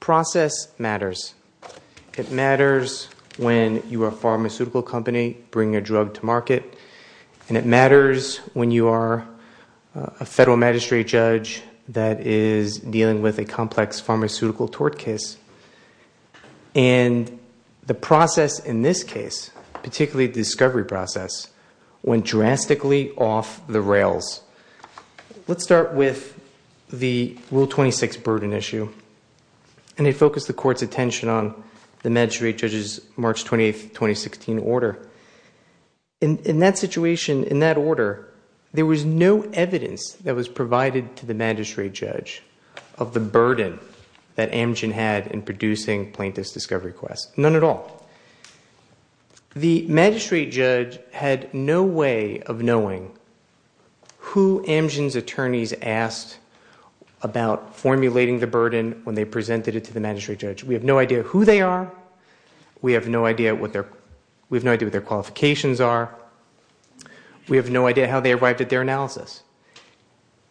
Process matters. It matters when you are a pharmaceutical company bringing a drug to market, and it matters when you are a federal magistrate judge that is dealing with a complex pharmaceutical tort case. And the process in this case, particularly the discovery process, went drastically off the rails. Let's start with the Rule 26 burden issue. And it focused the Court's attention on the magistrate judge's March 28, 2016 order. In that situation, in that order, there was no evidence that was provided to the magistrate judge of the burden that Amgen had in producing plaintiff's discovery requests. None at all. The magistrate judge had no way of knowing who Amgen's attorneys asked about formulating the burden when they presented it to the magistrate judge. We have no idea who they are. We have no idea what their qualifications are. We have no idea how they arrived at their analysis.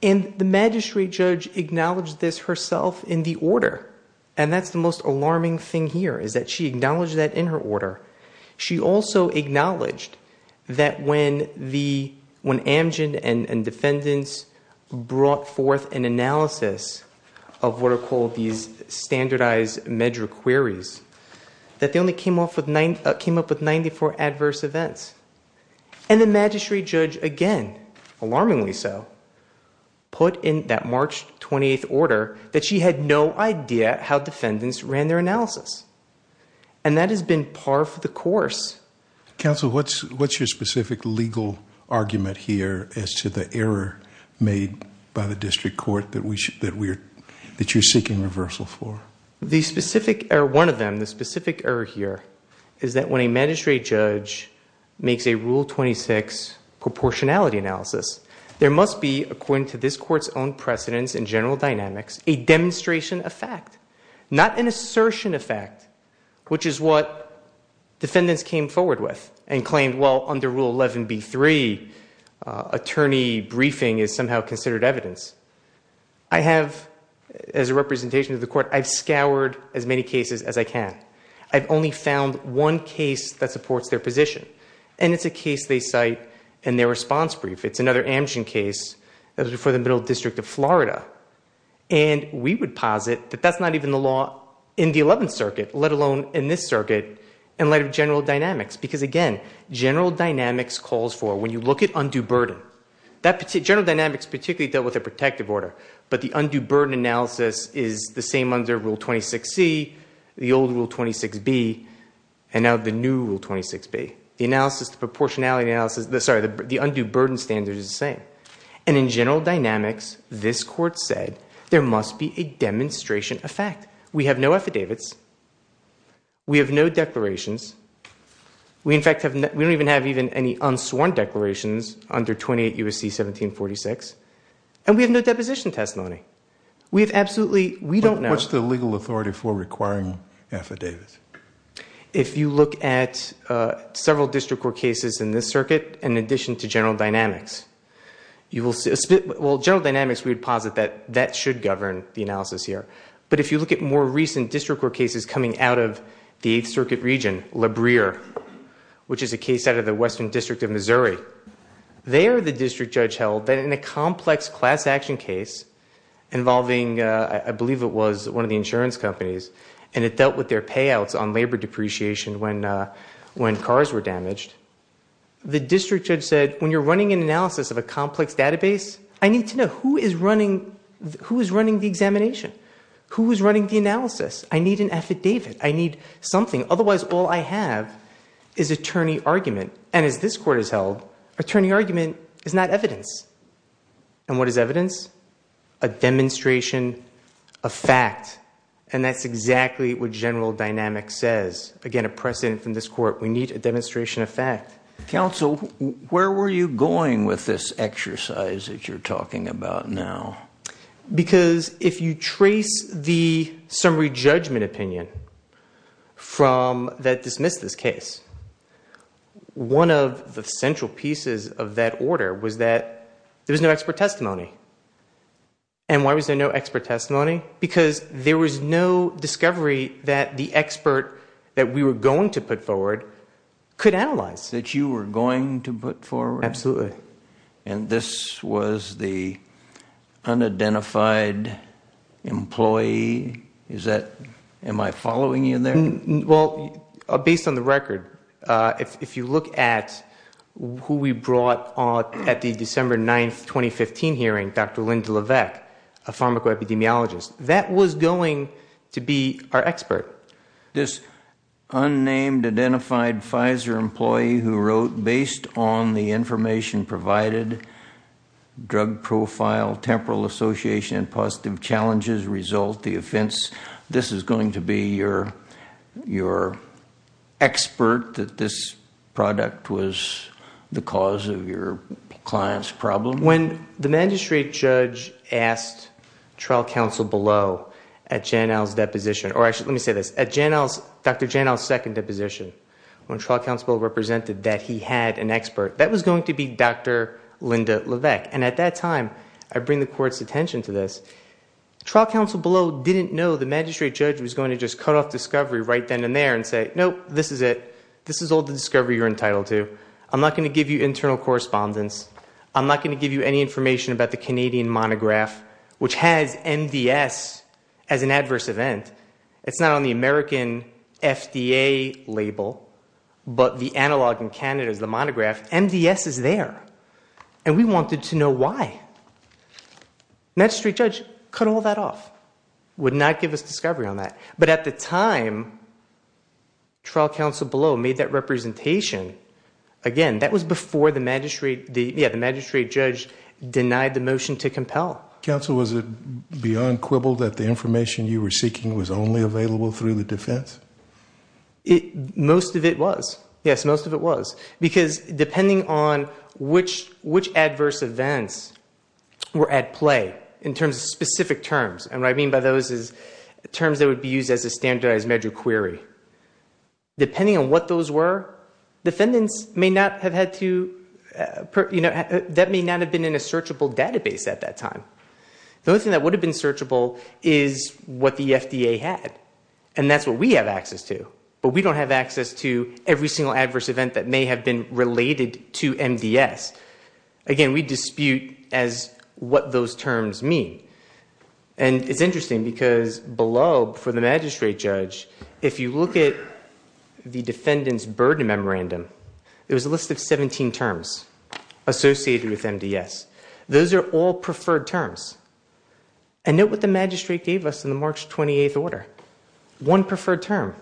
And the magistrate judge acknowledged this herself in the order, and that's the most alarming thing here is that she acknowledged that in her order. She also acknowledged that when Amgen and defendants brought forth an analysis of what are called these standardized measure queries, that they only came up with 94 adverse events. And the magistrate judge, again, alarmingly so, put in that March 28 order that she had no idea how defendants ran their analysis. And that has been par for the course. Counsel, what's your specific legal argument here as to the error made by the district court that you're seeking reversal for? The specific error, one of them, the specific error here is that when a magistrate judge makes a Rule 26 proportionality analysis, there must be, according to this court's own precedence in general dynamics, a demonstration of fact, not an assertion of fact, which is what defendants came forward with and claimed, well, under Rule 11b-3, attorney briefing is somehow considered evidence. I have, as a representation to the court, I've scoured as many cases as I can. I've only found one case that supports their position. And it's a case they cite in their response brief. It's another Amgen case that was before the Middle District of Florida. And we would posit that that's not even the law in the 11th Circuit, let alone in this circuit, in light of general dynamics. Because, again, general dynamics calls for, when you look at undue burden, general dynamics particularly dealt with a protective order. But the undue burden analysis is the same under Rule 26c, the old Rule 26b, and now the new Rule 26b. The undue burden standard is the same. And in general dynamics, this court said, there must be a demonstration of fact. We have no affidavits. We have no declarations. We, in fact, we don't even have any unsworn declarations under 28 U.S.C. 1746. And we have no deposition testimony. We have absolutely, we don't know. What's the legal authority for requiring affidavits? If you look at several district court cases in this circuit, in addition to general dynamics, you will see, well, general dynamics, we would posit that that should govern the analysis here. But if you look at more recent district court cases coming out of the Eighth Circuit region, La Brea, which is a case out of the Western District of Missouri, there the district judge held that in a complex class action case involving, I believe it was one of the insurance companies, and it dealt with their payouts on labor depreciation when cars were damaged, the district judge said, when you're running an analysis of a complex database, I need to know who is running the examination. Who is running the analysis? I need an affidavit. I need something. Otherwise, all I have is attorney argument. And as this court has held, attorney argument is not evidence. And what is evidence? A demonstration of fact. And that's exactly what general dynamics says. Again, a precedent from this court. We need a demonstration of fact. Counsel, where were you going with this exercise that you're talking about now? Because if you trace the summary judgment opinion that dismissed this case, one of the central pieces of that order was that there was no expert testimony. And why was there no expert testimony? Because there was no discovery that the expert that we were going to put forward could analyze. That you were going to put forward? Absolutely. And this was the unidentified employee? Am I following you there? Based on the record, if you look at who we brought at the December 9, 2015 hearing, Dr. Linda Levesque, a pharmacoepidemiologist, that was going to be our expert. This unnamed, identified Pfizer employee who wrote, based on the information provided, drug profile, temporal association, positive challenges, result, the offense, this is going to be your expert that this product was the cause of your client's problem? When the magistrate judge asked trial counsel below at Dr. Janow's second deposition, when trial counsel represented that he had an expert, that was going to be Dr. Linda Levesque. And at that time, I bring the court's attention to this, trial counsel below didn't know the magistrate judge was going to just cut off discovery right then and there and say, nope, this is it. This is all the discovery you're entitled to. I'm not going to give you internal correspondence. I'm not going to give you any information about the Canadian monograph, which has MDS as an adverse event. It's not on the American FDA label, but the analog in Canada is the monograph. MDS is there. And we wanted to know why. Magistrate judge cut all that off, would not give us discovery on that. But at the time, trial counsel below made that representation, again, that was before the magistrate judge denied the motion to compel. Counsel, was it beyond quibble that the information you were seeking was only available through the defense? Most of it was. Yes, most of it was. Because depending on which adverse events were at play in terms of specific terms, and what I mean by those is terms that would be used as a standardized measure query. Depending on what those were, defendants may not have had to, that may not have been in a searchable database at that time. The only thing that would have been searchable is what the FDA had. And that's what we have access to. But we don't have access to every single adverse event that may have been related to MDS. Again, we dispute as what those terms mean. And it's interesting because below for the magistrate judge, if you look at the defendant's burden memorandum, there was a list of 17 terms associated with MDS. Those are all preferred terms. And note what the magistrate gave us in the March 28th order. One preferred term.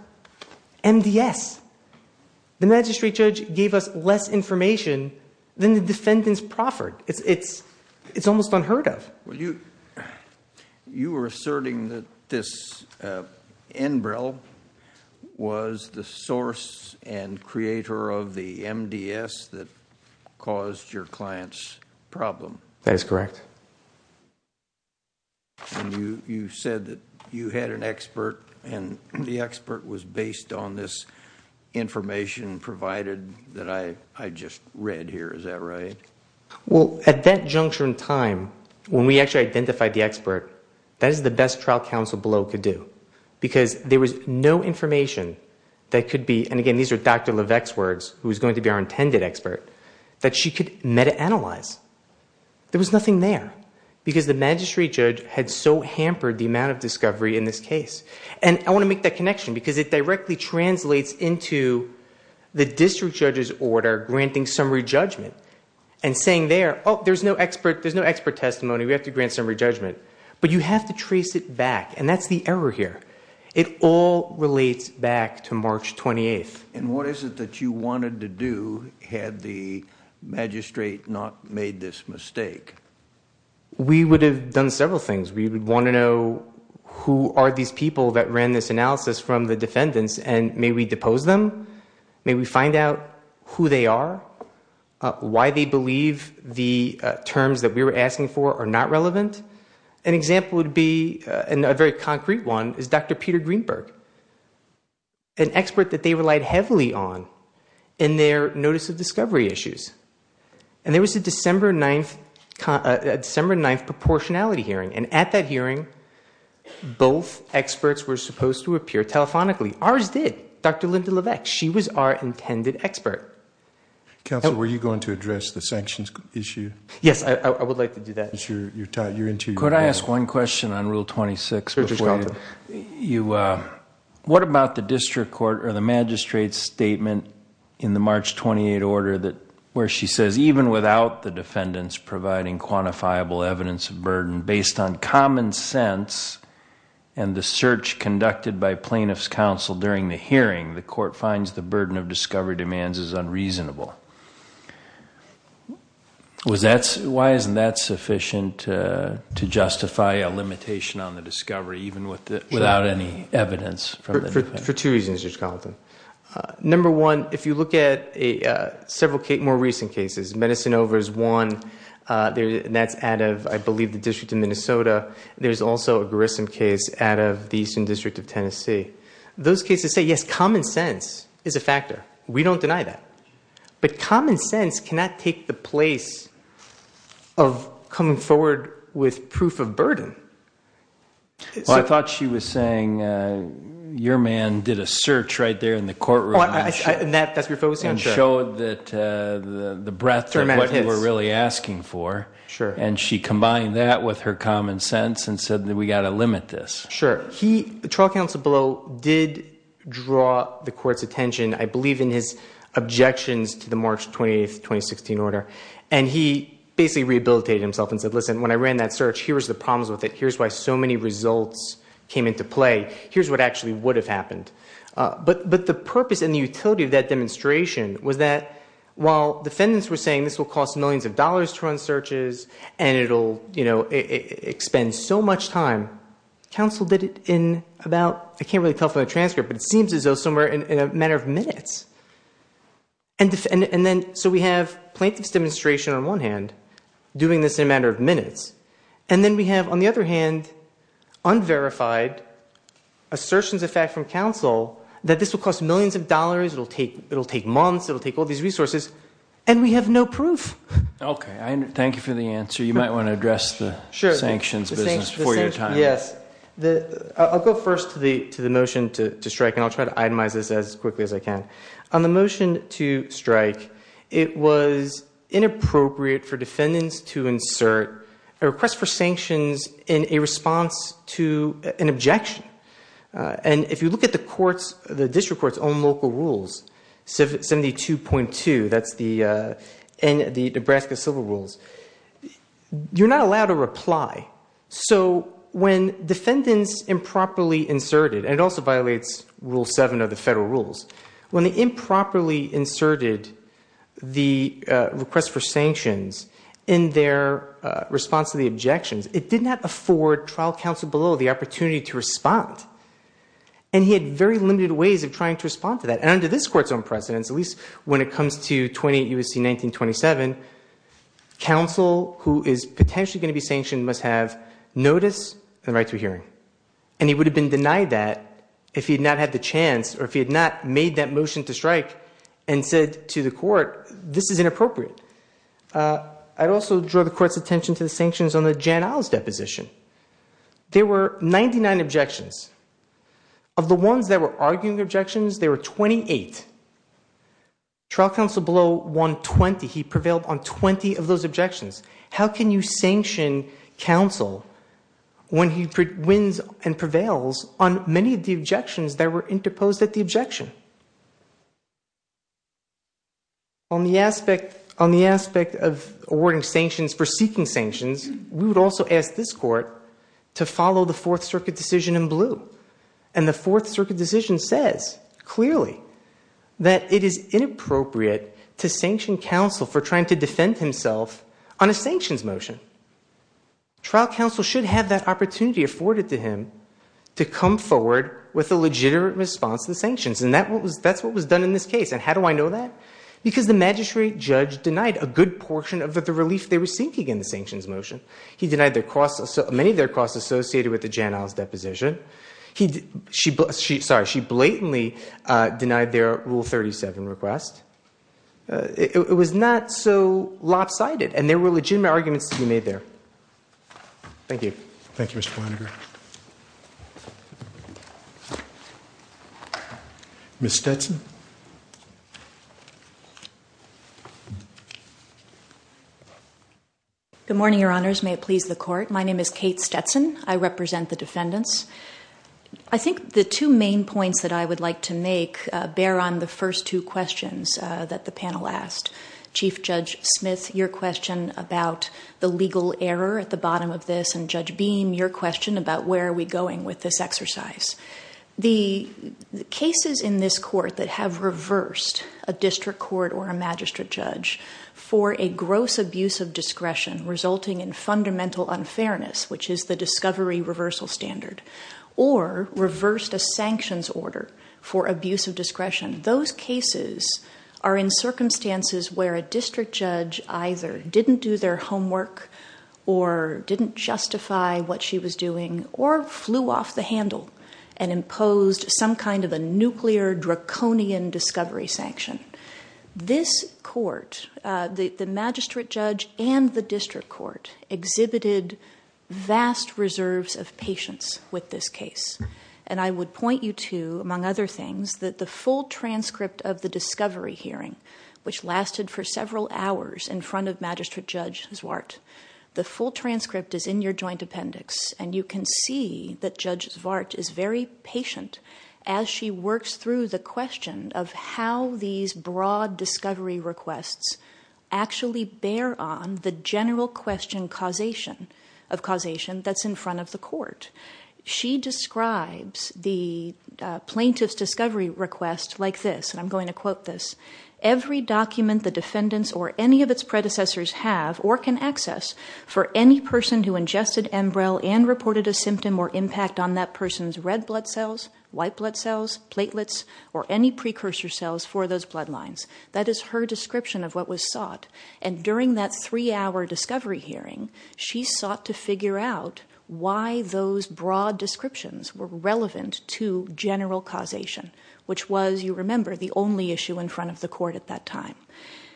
MDS. The magistrate judge gave us less information than the defendants proffered. It's almost unheard of. Well, you were asserting that this Enbrel was the source and creator of the MDS that caused your client's problem. That is correct. And you said that you had an expert and the expert was based on this information provided that I just read here. Is that right? Well, at that juncture in time, when we actually identified the expert, that is the best trial counsel below could do. Because there was no information that could be, and again, these are Dr. Levesque's words, who is going to be our intended expert, that she could meta-analyze. There was nothing there. Because the magistrate judge had so hampered the amount of discovery in this case. And I want to make that connection, because it directly translates into the district judge's order granting summary judgment. And saying there, oh, there's no expert testimony, we have to grant summary judgment. But you have to trace it back, and that's the error here. It all relates back to March 28th. And what is it that you wanted to do had the magistrate not made this mistake? We would have done several things. We would want to know who are these people that ran this analysis from the defendants, and may we depose them? May we find out who they are? Why they believe the terms that we were asking for are not relevant? An example would be, and a very concrete one, is Dr. Peter Greenberg. An expert that they relied heavily on in their notice of discovery issues. And there was a December 9th proportionality hearing. And at that hearing, both experts were supposed to appear telephonically. Ours did. Dr. Linda Levesque. She was our intended expert. Counsel, were you going to address the sanctions issue? Yes, I would like to do that. Could I ask one question on Rule 26? What about the district court or the magistrate's statement in the March 28th order where she says, even without the defendants providing quantifiable evidence of burden, based on common sense and the search conducted by plaintiff's counsel during the hearing, the court finds the burden of discovery demands is unreasonable. Why isn't that sufficient to justify a limitation on the discovery, even without any evidence? For two reasons, Judge Carleton. Number one, if you look at several more recent cases, Medicine Over is one. That's out of, I believe, the District of Minnesota. There's also a Grissom case out of the Eastern District of Tennessee. Those cases say, yes, common sense is a factor. We don't deny that. But common sense cannot take the place of coming forward with proof of burden. Well, I thought she was saying your man did a search right there in the courtroom. And that's what you're focusing on? And showed that the breadth of what you were really asking for. Sure. And she combined that with her common sense and said that we've got to limit this. Sure. The trial counsel below did draw the court's attention. I believe in his objections to the March 28, 2016 order. And he basically rehabilitated himself and said, listen, when I ran that search, here's the problems with it. Here's why so many results came into play. Here's what actually would have happened. But the purpose and the utility of that demonstration was that while defendants were saying this will cost millions of dollars to run searches, and it will expend so much time, counsel did it in about, I can't really tell from the transcript, but it seems as though somewhere in a matter of minutes. And then so we have plaintiff's demonstration on one hand doing this in a matter of minutes. And then we have, on the other hand, unverified assertions of fact from counsel that this will cost millions of dollars. It will take months. It will take all these resources. And we have no proof. Okay. Thank you for the answer. You might want to address the sanctions business before your time. Yes. I'll go first to the motion to strike, and I'll try to itemize this as quickly as I can. On the motion to strike, it was inappropriate for defendants to insert a request for sanctions in a response to an objection. And if you look at the district court's own local rules, 72.2, that's the Nebraska Civil Rules, you're not allowed a reply. So when defendants improperly inserted, and it also violates Rule 7 of the federal rules, when they improperly inserted the request for sanctions in their response to the objections, it did not afford trial counsel below the opportunity to respond. And he had very limited ways of trying to respond to that. And under this court's own precedence, at least when it comes to 28 U.S.C. 1927, counsel who is potentially going to be sanctioned must have notice and the right to a hearing. And he would have been denied that if he had not had the chance or if he had not made that motion to strike and said to the court, this is inappropriate. I'd also draw the court's attention to the sanctions on the Jan Isles deposition. There were 99 objections. Of the ones that were arguing objections, there were 28. Trial counsel below won 20. He prevailed on 20 of those objections. How can you sanction counsel when he wins and prevails on many of the objections that were interposed at the objection? On the aspect of awarding sanctions for seeking sanctions, we would also ask this court to follow the Fourth Circuit decision in blue. And the Fourth Circuit decision says clearly that it is inappropriate to sanction counsel for trying to defend himself on a sanctions motion. Trial counsel should have that opportunity afforded to him to come forward with a legitimate response to the sanctions. And that's what was done in this case. And how do I know that? Because the magistrate judge denied a good portion of the relief they were seeking in the sanctions motion. He denied many of their costs associated with the Jan Isles deposition. She blatantly denied their Rule 37 request. It was not so lopsided. And there were legitimate arguments to be made there. Thank you. Thank you, Mr. Flanagan. Ms. Stetson? Good morning, Your Honors. May it please the Court. My name is Kate Stetson. I represent the defendants. I think the two main points that I would like to make bear on the first two questions that the panel asked. Chief Judge Smith, your question about the legal error at the bottom of this, and Judge Beam, your question about where are we going with this exercise. The cases in this Court that have reversed a district court or a magistrate judge for a gross abuse of discretion resulting in fundamental unfairness, which is the discovery reversal standard, or reversed a sanctions order for abuse of discretion, those cases are in circumstances where a district judge either didn't do their homework or didn't justify what she was doing or flew off the handle and imposed some kind of a nuclear draconian discovery sanction. This Court, the magistrate judge and the district court, exhibited vast reserves of patience with this case. And I would point you to, among other things, that the full transcript of the discovery hearing, which lasted for several hours in front of Magistrate Judge Zwart. The full transcript is in your joint appendix, and you can see that Judge Zwart is very patient as she works through the question of how these broad discovery requests actually bear on the general question of causation that's in front of the Court. She describes the plaintiff's discovery request like this, and I'm going to quote this, every document the defendants or any of its predecessors have or can access for any person who ingested Embryol and reported a symptom or impact on that person's red blood cells, white blood cells, platelets, or any precursor cells for those blood lines. That is her description of what was sought. And during that three-hour discovery hearing, she sought to figure out why those broad descriptions were relevant to general causation, which was, you remember, the only issue in front of the Court at that time.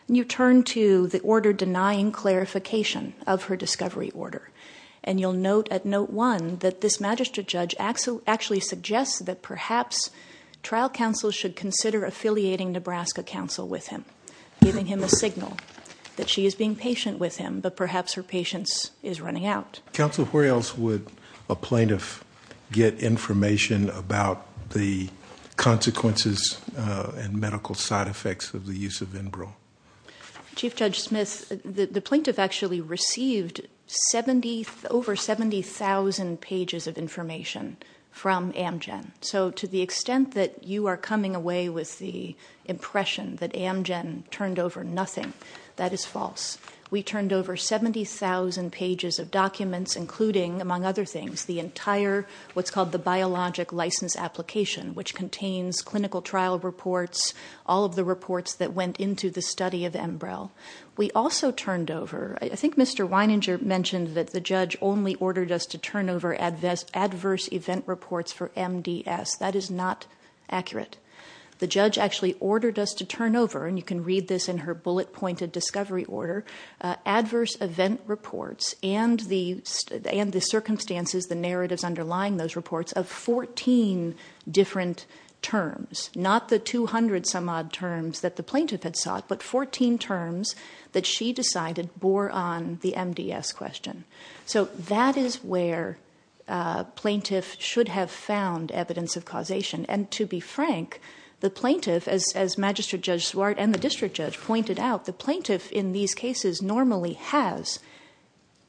And you turn to the order denying clarification of her discovery order, and you'll note at note one that this magistrate judge actually suggests that perhaps trial counsel should consider affiliating Nebraska counsel with him, giving him a signal that she is being patient with him, but perhaps her patience is running out. Counsel, where else would a plaintiff get information about the consequences and medical side effects of the use of Embryol? Chief Judge Smith, the plaintiff actually received over 70,000 pages of information from Amgen. So to the extent that you are coming away with the impression that Amgen turned over nothing, that is false. We turned over 70,000 pages of documents, including, among other things, the entire what's called the Biologic License Application, which contains clinical trial reports, all of the reports that went into the study of Embryol. We also turned over, I think Mr. Weininger mentioned that the judge only ordered us to turn over adverse event reports for MDS. That is not accurate. The judge actually ordered us to turn over, and you can read this in her bullet-pointed discovery order, adverse event reports and the circumstances, the narratives underlying those reports of 14 different terms, not the 200-some-odd terms that the plaintiff had sought, but 14 terms that she decided bore on the MDS question. So that is where a plaintiff should have found evidence of causation. And to be frank, the plaintiff, as Magistrate Judge Swart and the district judge pointed out, the plaintiff in these cases normally has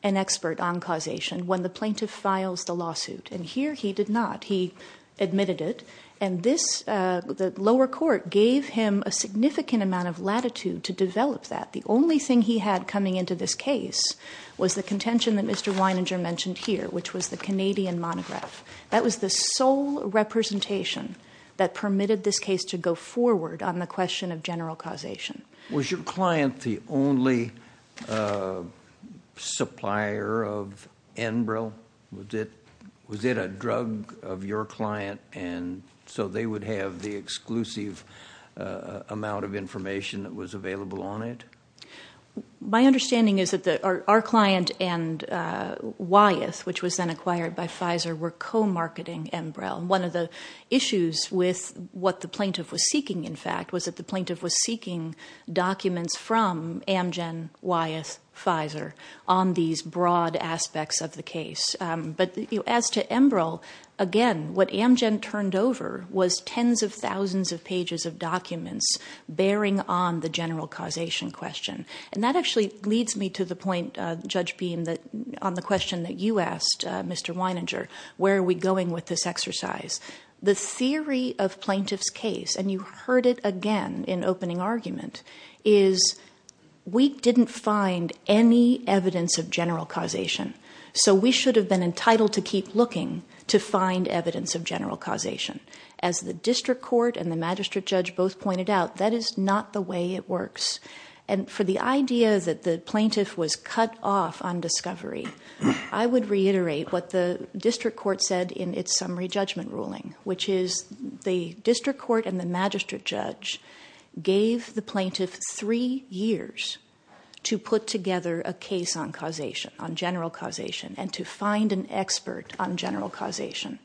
an expert on causation when the plaintiff files the lawsuit, and here he did not. He admitted it, and the lower court gave him a significant amount of latitude to develop that. The only thing he had coming into this case was the contention that Mr. Weininger mentioned here, which was the Canadian monograph. That was the sole representation that permitted this case to go forward on the question of general causation. Was your client the only supplier of Enbrel? Was it a drug of your client, and so they would have the exclusive amount of information that was available on it? My understanding is that our client and Wyeth, which was then acquired by Pfizer, were co-marketing Enbrel. One of the issues with what the plaintiff was seeking, in fact, was that the plaintiff was seeking documents from Amgen, Wyeth, Pfizer on these broad aspects of the case. But as to Enbrel, again, what Amgen turned over was tens of thousands of pages of documents bearing on the general causation question. And that actually leads me to the point, Judge Beam, on the question that you asked Mr. Weininger, where are we going with this exercise? The theory of plaintiff's case, and you heard it again in opening argument, is we didn't find any evidence of general causation, so we should have been entitled to keep looking to find evidence of general causation. As the district court and the magistrate judge both pointed out, that is not the way it works. And for the idea that the plaintiff was cut off on discovery, I would reiterate what the district court said in its summary judgment ruling, which is the district court and the magistrate judge gave the plaintiff three years to put together a case on causation, on general causation, and to find an expert on general causation.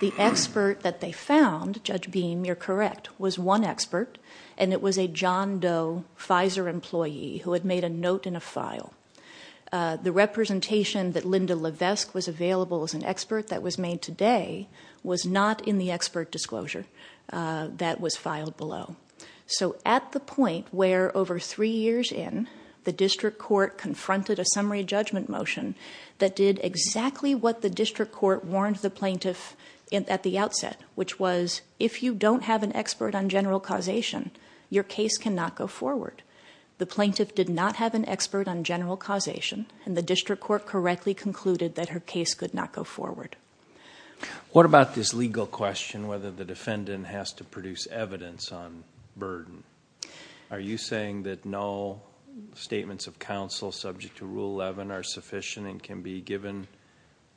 The expert that they found, Judge Beam, you're correct, was one expert, and it was a John Doe Pfizer employee who had made a note in a file. The representation that Linda Levesque was available as an expert that was made today was not in the expert disclosure that was filed below. So at the point where over three years in, the district court confronted a summary judgment motion that did exactly what the district court warned the plaintiff at the outset, which was if you don't have an expert on general causation, your case cannot go forward. The plaintiff did not have an expert on general causation, and the district court correctly concluded that her case could not go forward. What about this legal question, whether the defendant has to produce evidence on burden? Are you saying that no statements of counsel subject to Rule 11 are sufficient and can be given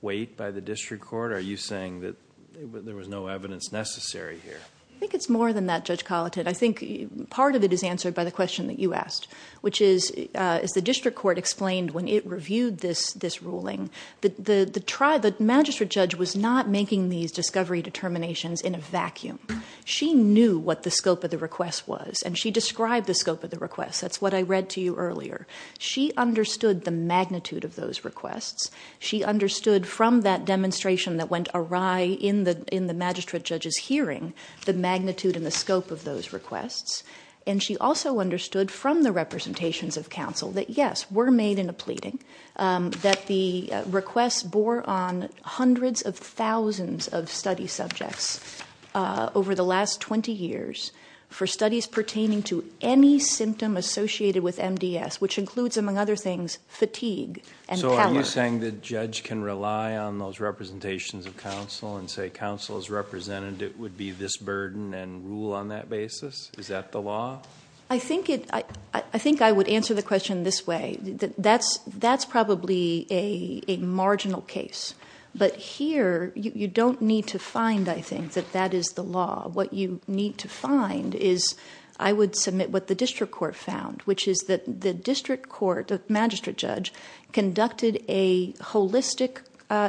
weight by the district court? Are you saying that there was no evidence necessary here? I think it's more than that, Judge Colititt. I think part of it is answered by the question that you asked, which is the district court explained when it reviewed this ruling that the magistrate judge was not making these discovery determinations in a vacuum. She knew what the scope of the request was, and she described the scope of the request. That's what I read to you earlier. She understood the magnitude of those requests. She understood from that demonstration that went awry in the magistrate judge's hearing the magnitude and the scope of those requests, and she also understood from the representations of counsel that, yes, we're made in a pleading, that the request bore on hundreds of thousands of study subjects over the last 20 years for studies pertaining to any symptom associated with MDS, which includes, among other things, fatigue and power. So are you saying the judge can rely on those representations of counsel and say counsel's representative would be this burden and rule on that basis? Is that the law? I think I would answer the question this way. That's probably a marginal case. But here you don't need to find, I think, that that is the law. What you need to find is I would submit what the district court found, which is that the district court, the magistrate judge, conducted a holistic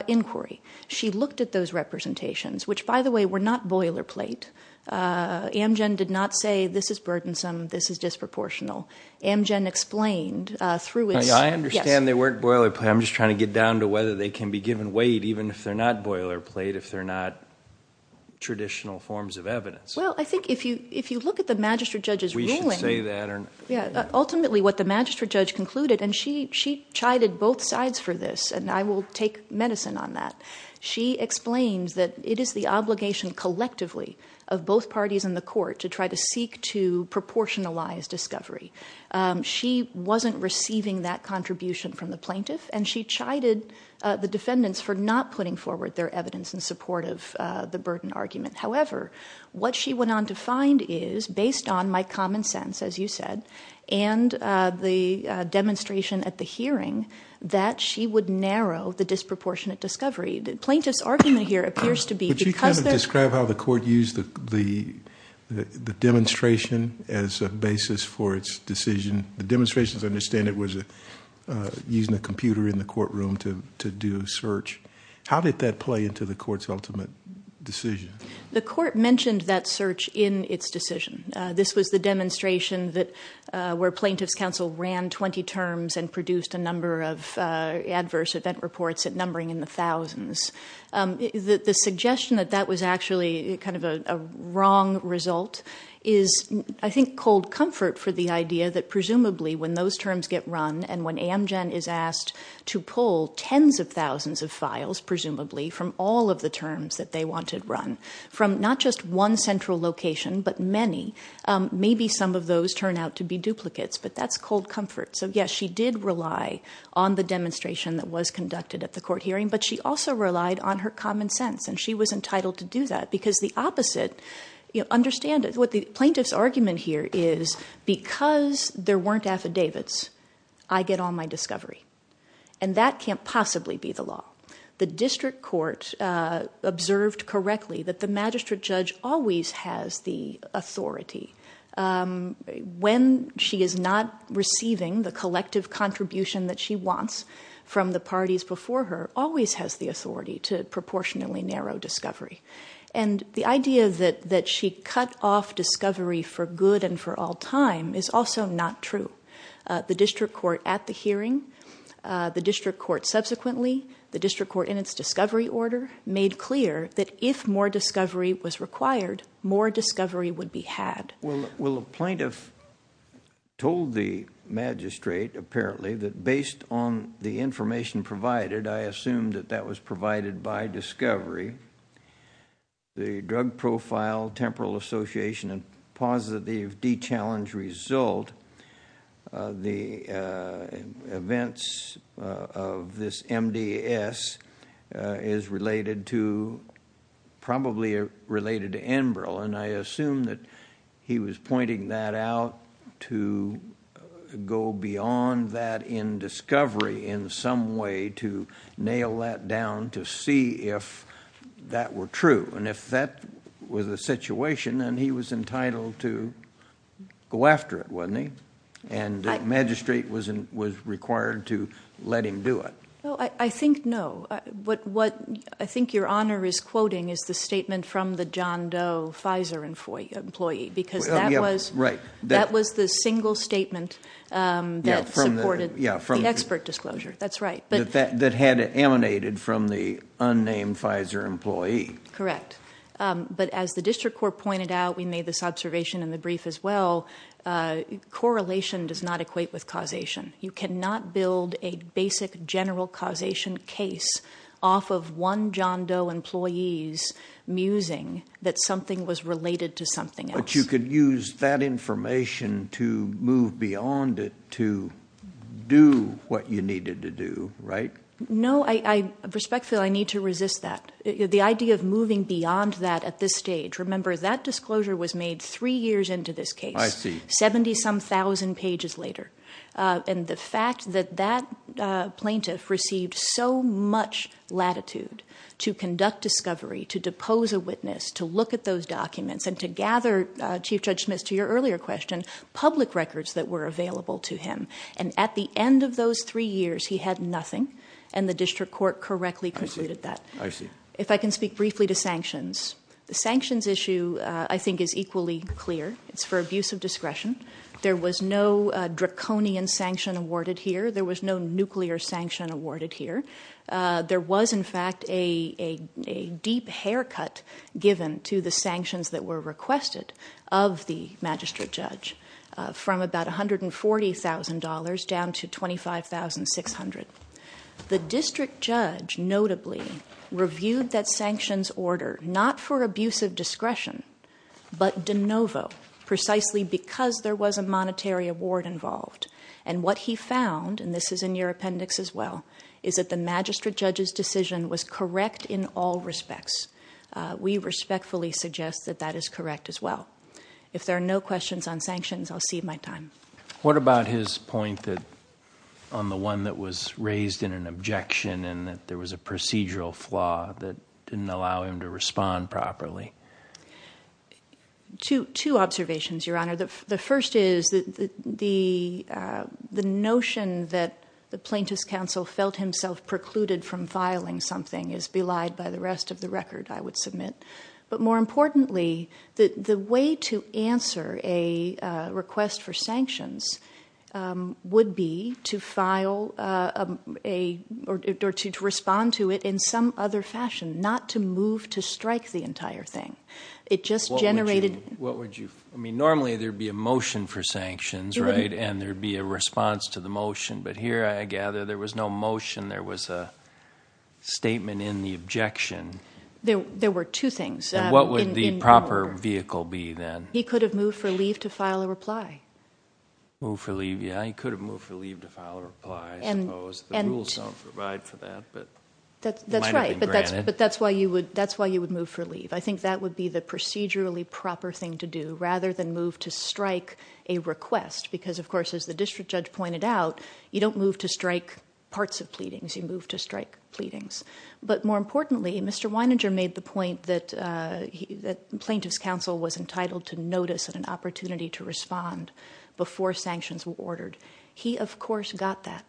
inquiry. She looked at those representations, which, by the way, were not boilerplate. Amgen did not say this is burdensome, this is disproportional. Amgen explained through its yes. I understand they weren't boilerplate. I'm just trying to get down to whether they can be given weight even if they're not boilerplate, if they're not traditional forms of evidence. Well, I think if you look at the magistrate judge's ruling, ultimately what the magistrate judge concluded, and she chided both sides for this, and I will take medicine on that. She explains that it is the obligation collectively of both parties in the court to try to seek to proportionalize discovery. She wasn't receiving that contribution from the plaintiff, and she chided the defendants for not putting forward their evidence in support of the burden argument. However, what she went on to find is, based on my common sense, as you said, and the demonstration at the hearing, that she would narrow the disproportionate discovery. The plaintiff's argument here appears to be because there's- Would you kind of describe how the court used the demonstration as a basis for its decision? The demonstration, as I understand it, was using a computer in the courtroom to do a search. How did that play into the court's ultimate decision? The court mentioned that search in its decision. This was the demonstration where plaintiff's counsel ran 20 terms and produced a number of adverse event reports numbering in the thousands. The suggestion that that was actually kind of a wrong result is, I think, cold comfort for the idea that, from all of the terms that they wanted run, from not just one central location but many, maybe some of those turn out to be duplicates, but that's cold comfort. So, yes, she did rely on the demonstration that was conducted at the court hearing, but she also relied on her common sense, and she was entitled to do that, because the opposite- Understand what the plaintiff's argument here is, because there weren't affidavits, I get all my discovery, and that can't possibly be the law. The district court observed correctly that the magistrate judge always has the authority. When she is not receiving the collective contribution that she wants from the parties before her, always has the authority to proportionally narrow discovery, and the idea that she cut off discovery for good and for all time is also not true. The district court at the hearing, the district court subsequently, the district court in its discovery order, made clear that if more discovery was required, more discovery would be had. Well, the plaintiff told the magistrate, apparently, that based on the information provided, I assume that that was provided by discovery, the drug profile, temporal association, and positive D-challenge result, the events of this MDS is related to, probably related to Enbrel, and I assume that he was pointing that out to go beyond that in discovery in some way, to nail that down to see if that were true. And if that was the situation, then he was entitled to go after it, wasn't he? And the magistrate was required to let him do it. Well, I think no. What I think Your Honor is quoting is the statement from the John Doe Pfizer employee, because that was the single statement that supported the expert disclosure. That's right. That had emanated from the unnamed Pfizer employee. Correct. But as the district court pointed out, we made this observation in the brief as well, correlation does not equate with causation. You cannot build a basic general causation case off of one John Doe employee's musing that something was related to something else. You could use that information to move beyond it to do what you needed to do, right? No. Respectfully, I need to resist that. The idea of moving beyond that at this stage. Remember, that disclosure was made three years into this case. I see. Seventy-some thousand pages later. And the fact that that plaintiff received so much latitude to conduct discovery, to depose a witness, to look at those documents, and to gather, Chief Judge Smith, to your earlier question, public records that were available to him. And at the end of those three years, he had nothing, and the district court correctly concluded that. I see. If I can speak briefly to sanctions. The sanctions issue, I think, is equally clear. It's for abuse of discretion. There was no draconian sanction awarded here. There was no nuclear sanction awarded here. There was, in fact, a deep haircut given to the sanctions that were requested of the magistrate judge, from about $140,000 down to $25,600. The district judge, notably, reviewed that sanctions order, not for abuse of discretion, but de novo, precisely because there was a monetary award involved. And what he found, and this is in your appendix as well, is that the magistrate judge's decision was correct in all respects. We respectfully suggest that that is correct as well. If there are no questions on sanctions, I'll cede my time. What about his point on the one that was raised in an objection, and that there was a procedural flaw that didn't allow him to respond properly? Two observations, Your Honor. The first is that the notion that the plaintiff's counsel felt himself precluded from filing something is belied by the rest of the record, I would submit. But more importantly, the way to answer a request for sanctions would be to file a or to respond to it in some other fashion, not to move to strike the entire thing. What would you? I mean, normally there would be a motion for sanctions, right? And there would be a response to the motion. But here, I gather, there was no motion. There was a statement in the objection. There were two things. And what would the proper vehicle be then? He could have moved for leave to file a reply. Moved for leave, yeah. He could have moved for leave to file a reply, I suppose. The rules don't provide for that, but it might have been granted. That's right, but that's why you would move for leave. I think that would be the procedurally proper thing to do, rather than move to strike a request. Because, of course, as the district judge pointed out, you don't move to strike parts of pleadings. You move to strike pleadings. But more importantly, Mr. Weininger made the point that plaintiff's counsel was entitled to notice and an opportunity to respond before sanctions were ordered. He, of course, got that.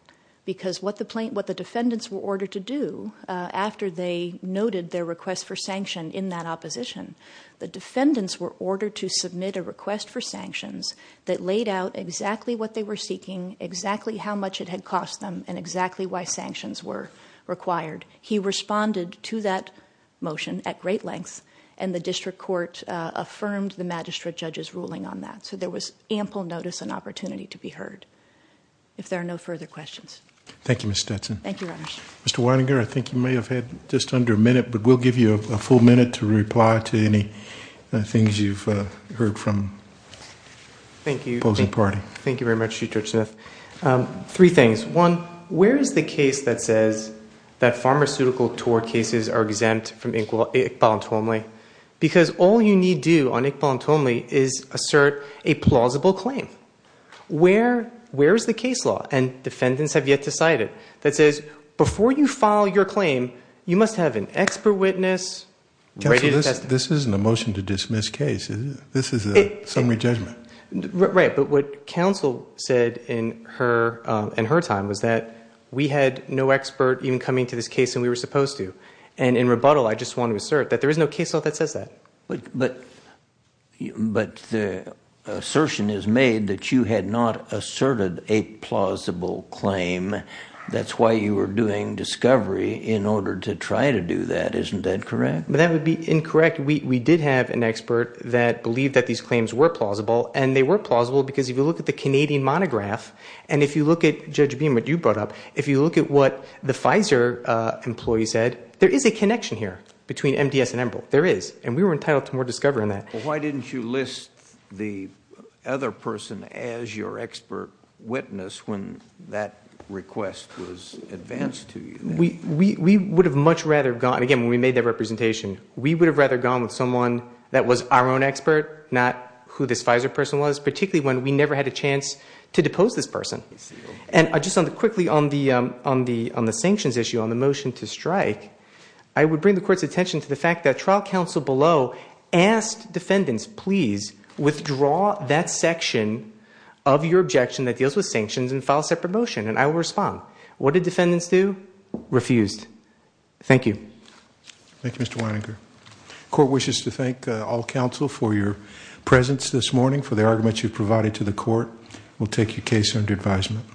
Because what the defendants were ordered to do after they noted their request for sanction in that opposition, the defendants were ordered to submit a request for sanctions that laid out exactly what they were seeking, exactly how much it had cost them, and exactly why sanctions were required. He responded to that motion at great length, and the district court affirmed the magistrate judge's ruling on that. So there was ample notice and opportunity to be heard. If there are no further questions. Thank you, Ms. Stetson. Thank you, Your Honor. Mr. Weininger, I think you may have had just under a minute, but we'll give you a full minute to reply to any things you've heard from the opposing party. Thank you. Thank you very much, Chief Judge Smith. Three things. One, where is the case that says that pharmaceutical tort cases are exempt from Iqbal and Tomli? Because all you need do on Iqbal and Tomli is assert a plausible claim. Where is the case law, and defendants have yet to cite it, that says before you file your claim, you must have an expert witness ready to test it. Counsel, this isn't a motion to dismiss case. This is a summary judgment. Right, but what counsel said in her time was that we had no expert even coming to this case than we were supposed to, and in rebuttal I just want to assert that there is no case law that says that. But the assertion is made that you had not asserted a plausible claim. That's why you were doing discovery in order to try to do that. Isn't that correct? That would be incorrect. We did have an expert that believed that these claims were plausible, and they were plausible because if you look at the Canadian monograph, and if you look at, Judge Beam, what you brought up, if you look at what the Pfizer employee said, there is a connection here between MDS and Embrill. There is, and we were entitled to more discovery than that. Why didn't you list the other person as your expert witness when that request was advanced to you? We would have much rather gone, again, when we made that representation, we would have rather gone with someone that was our own expert, not who this Pfizer person was, particularly when we never had a chance to depose this person. And just quickly on the sanctions issue, on the motion to strike, I would bring the court's attention to the fact that trial counsel below asked defendants, please withdraw that section of your objection that deals with sanctions and file a separate motion, and I will respond. What did defendants do? Refused. Thank you. Thank you, Mr. Weininger. The court wishes to thank all counsel for your presence this morning, for the arguments you've provided to the court. We'll take your case under advisement.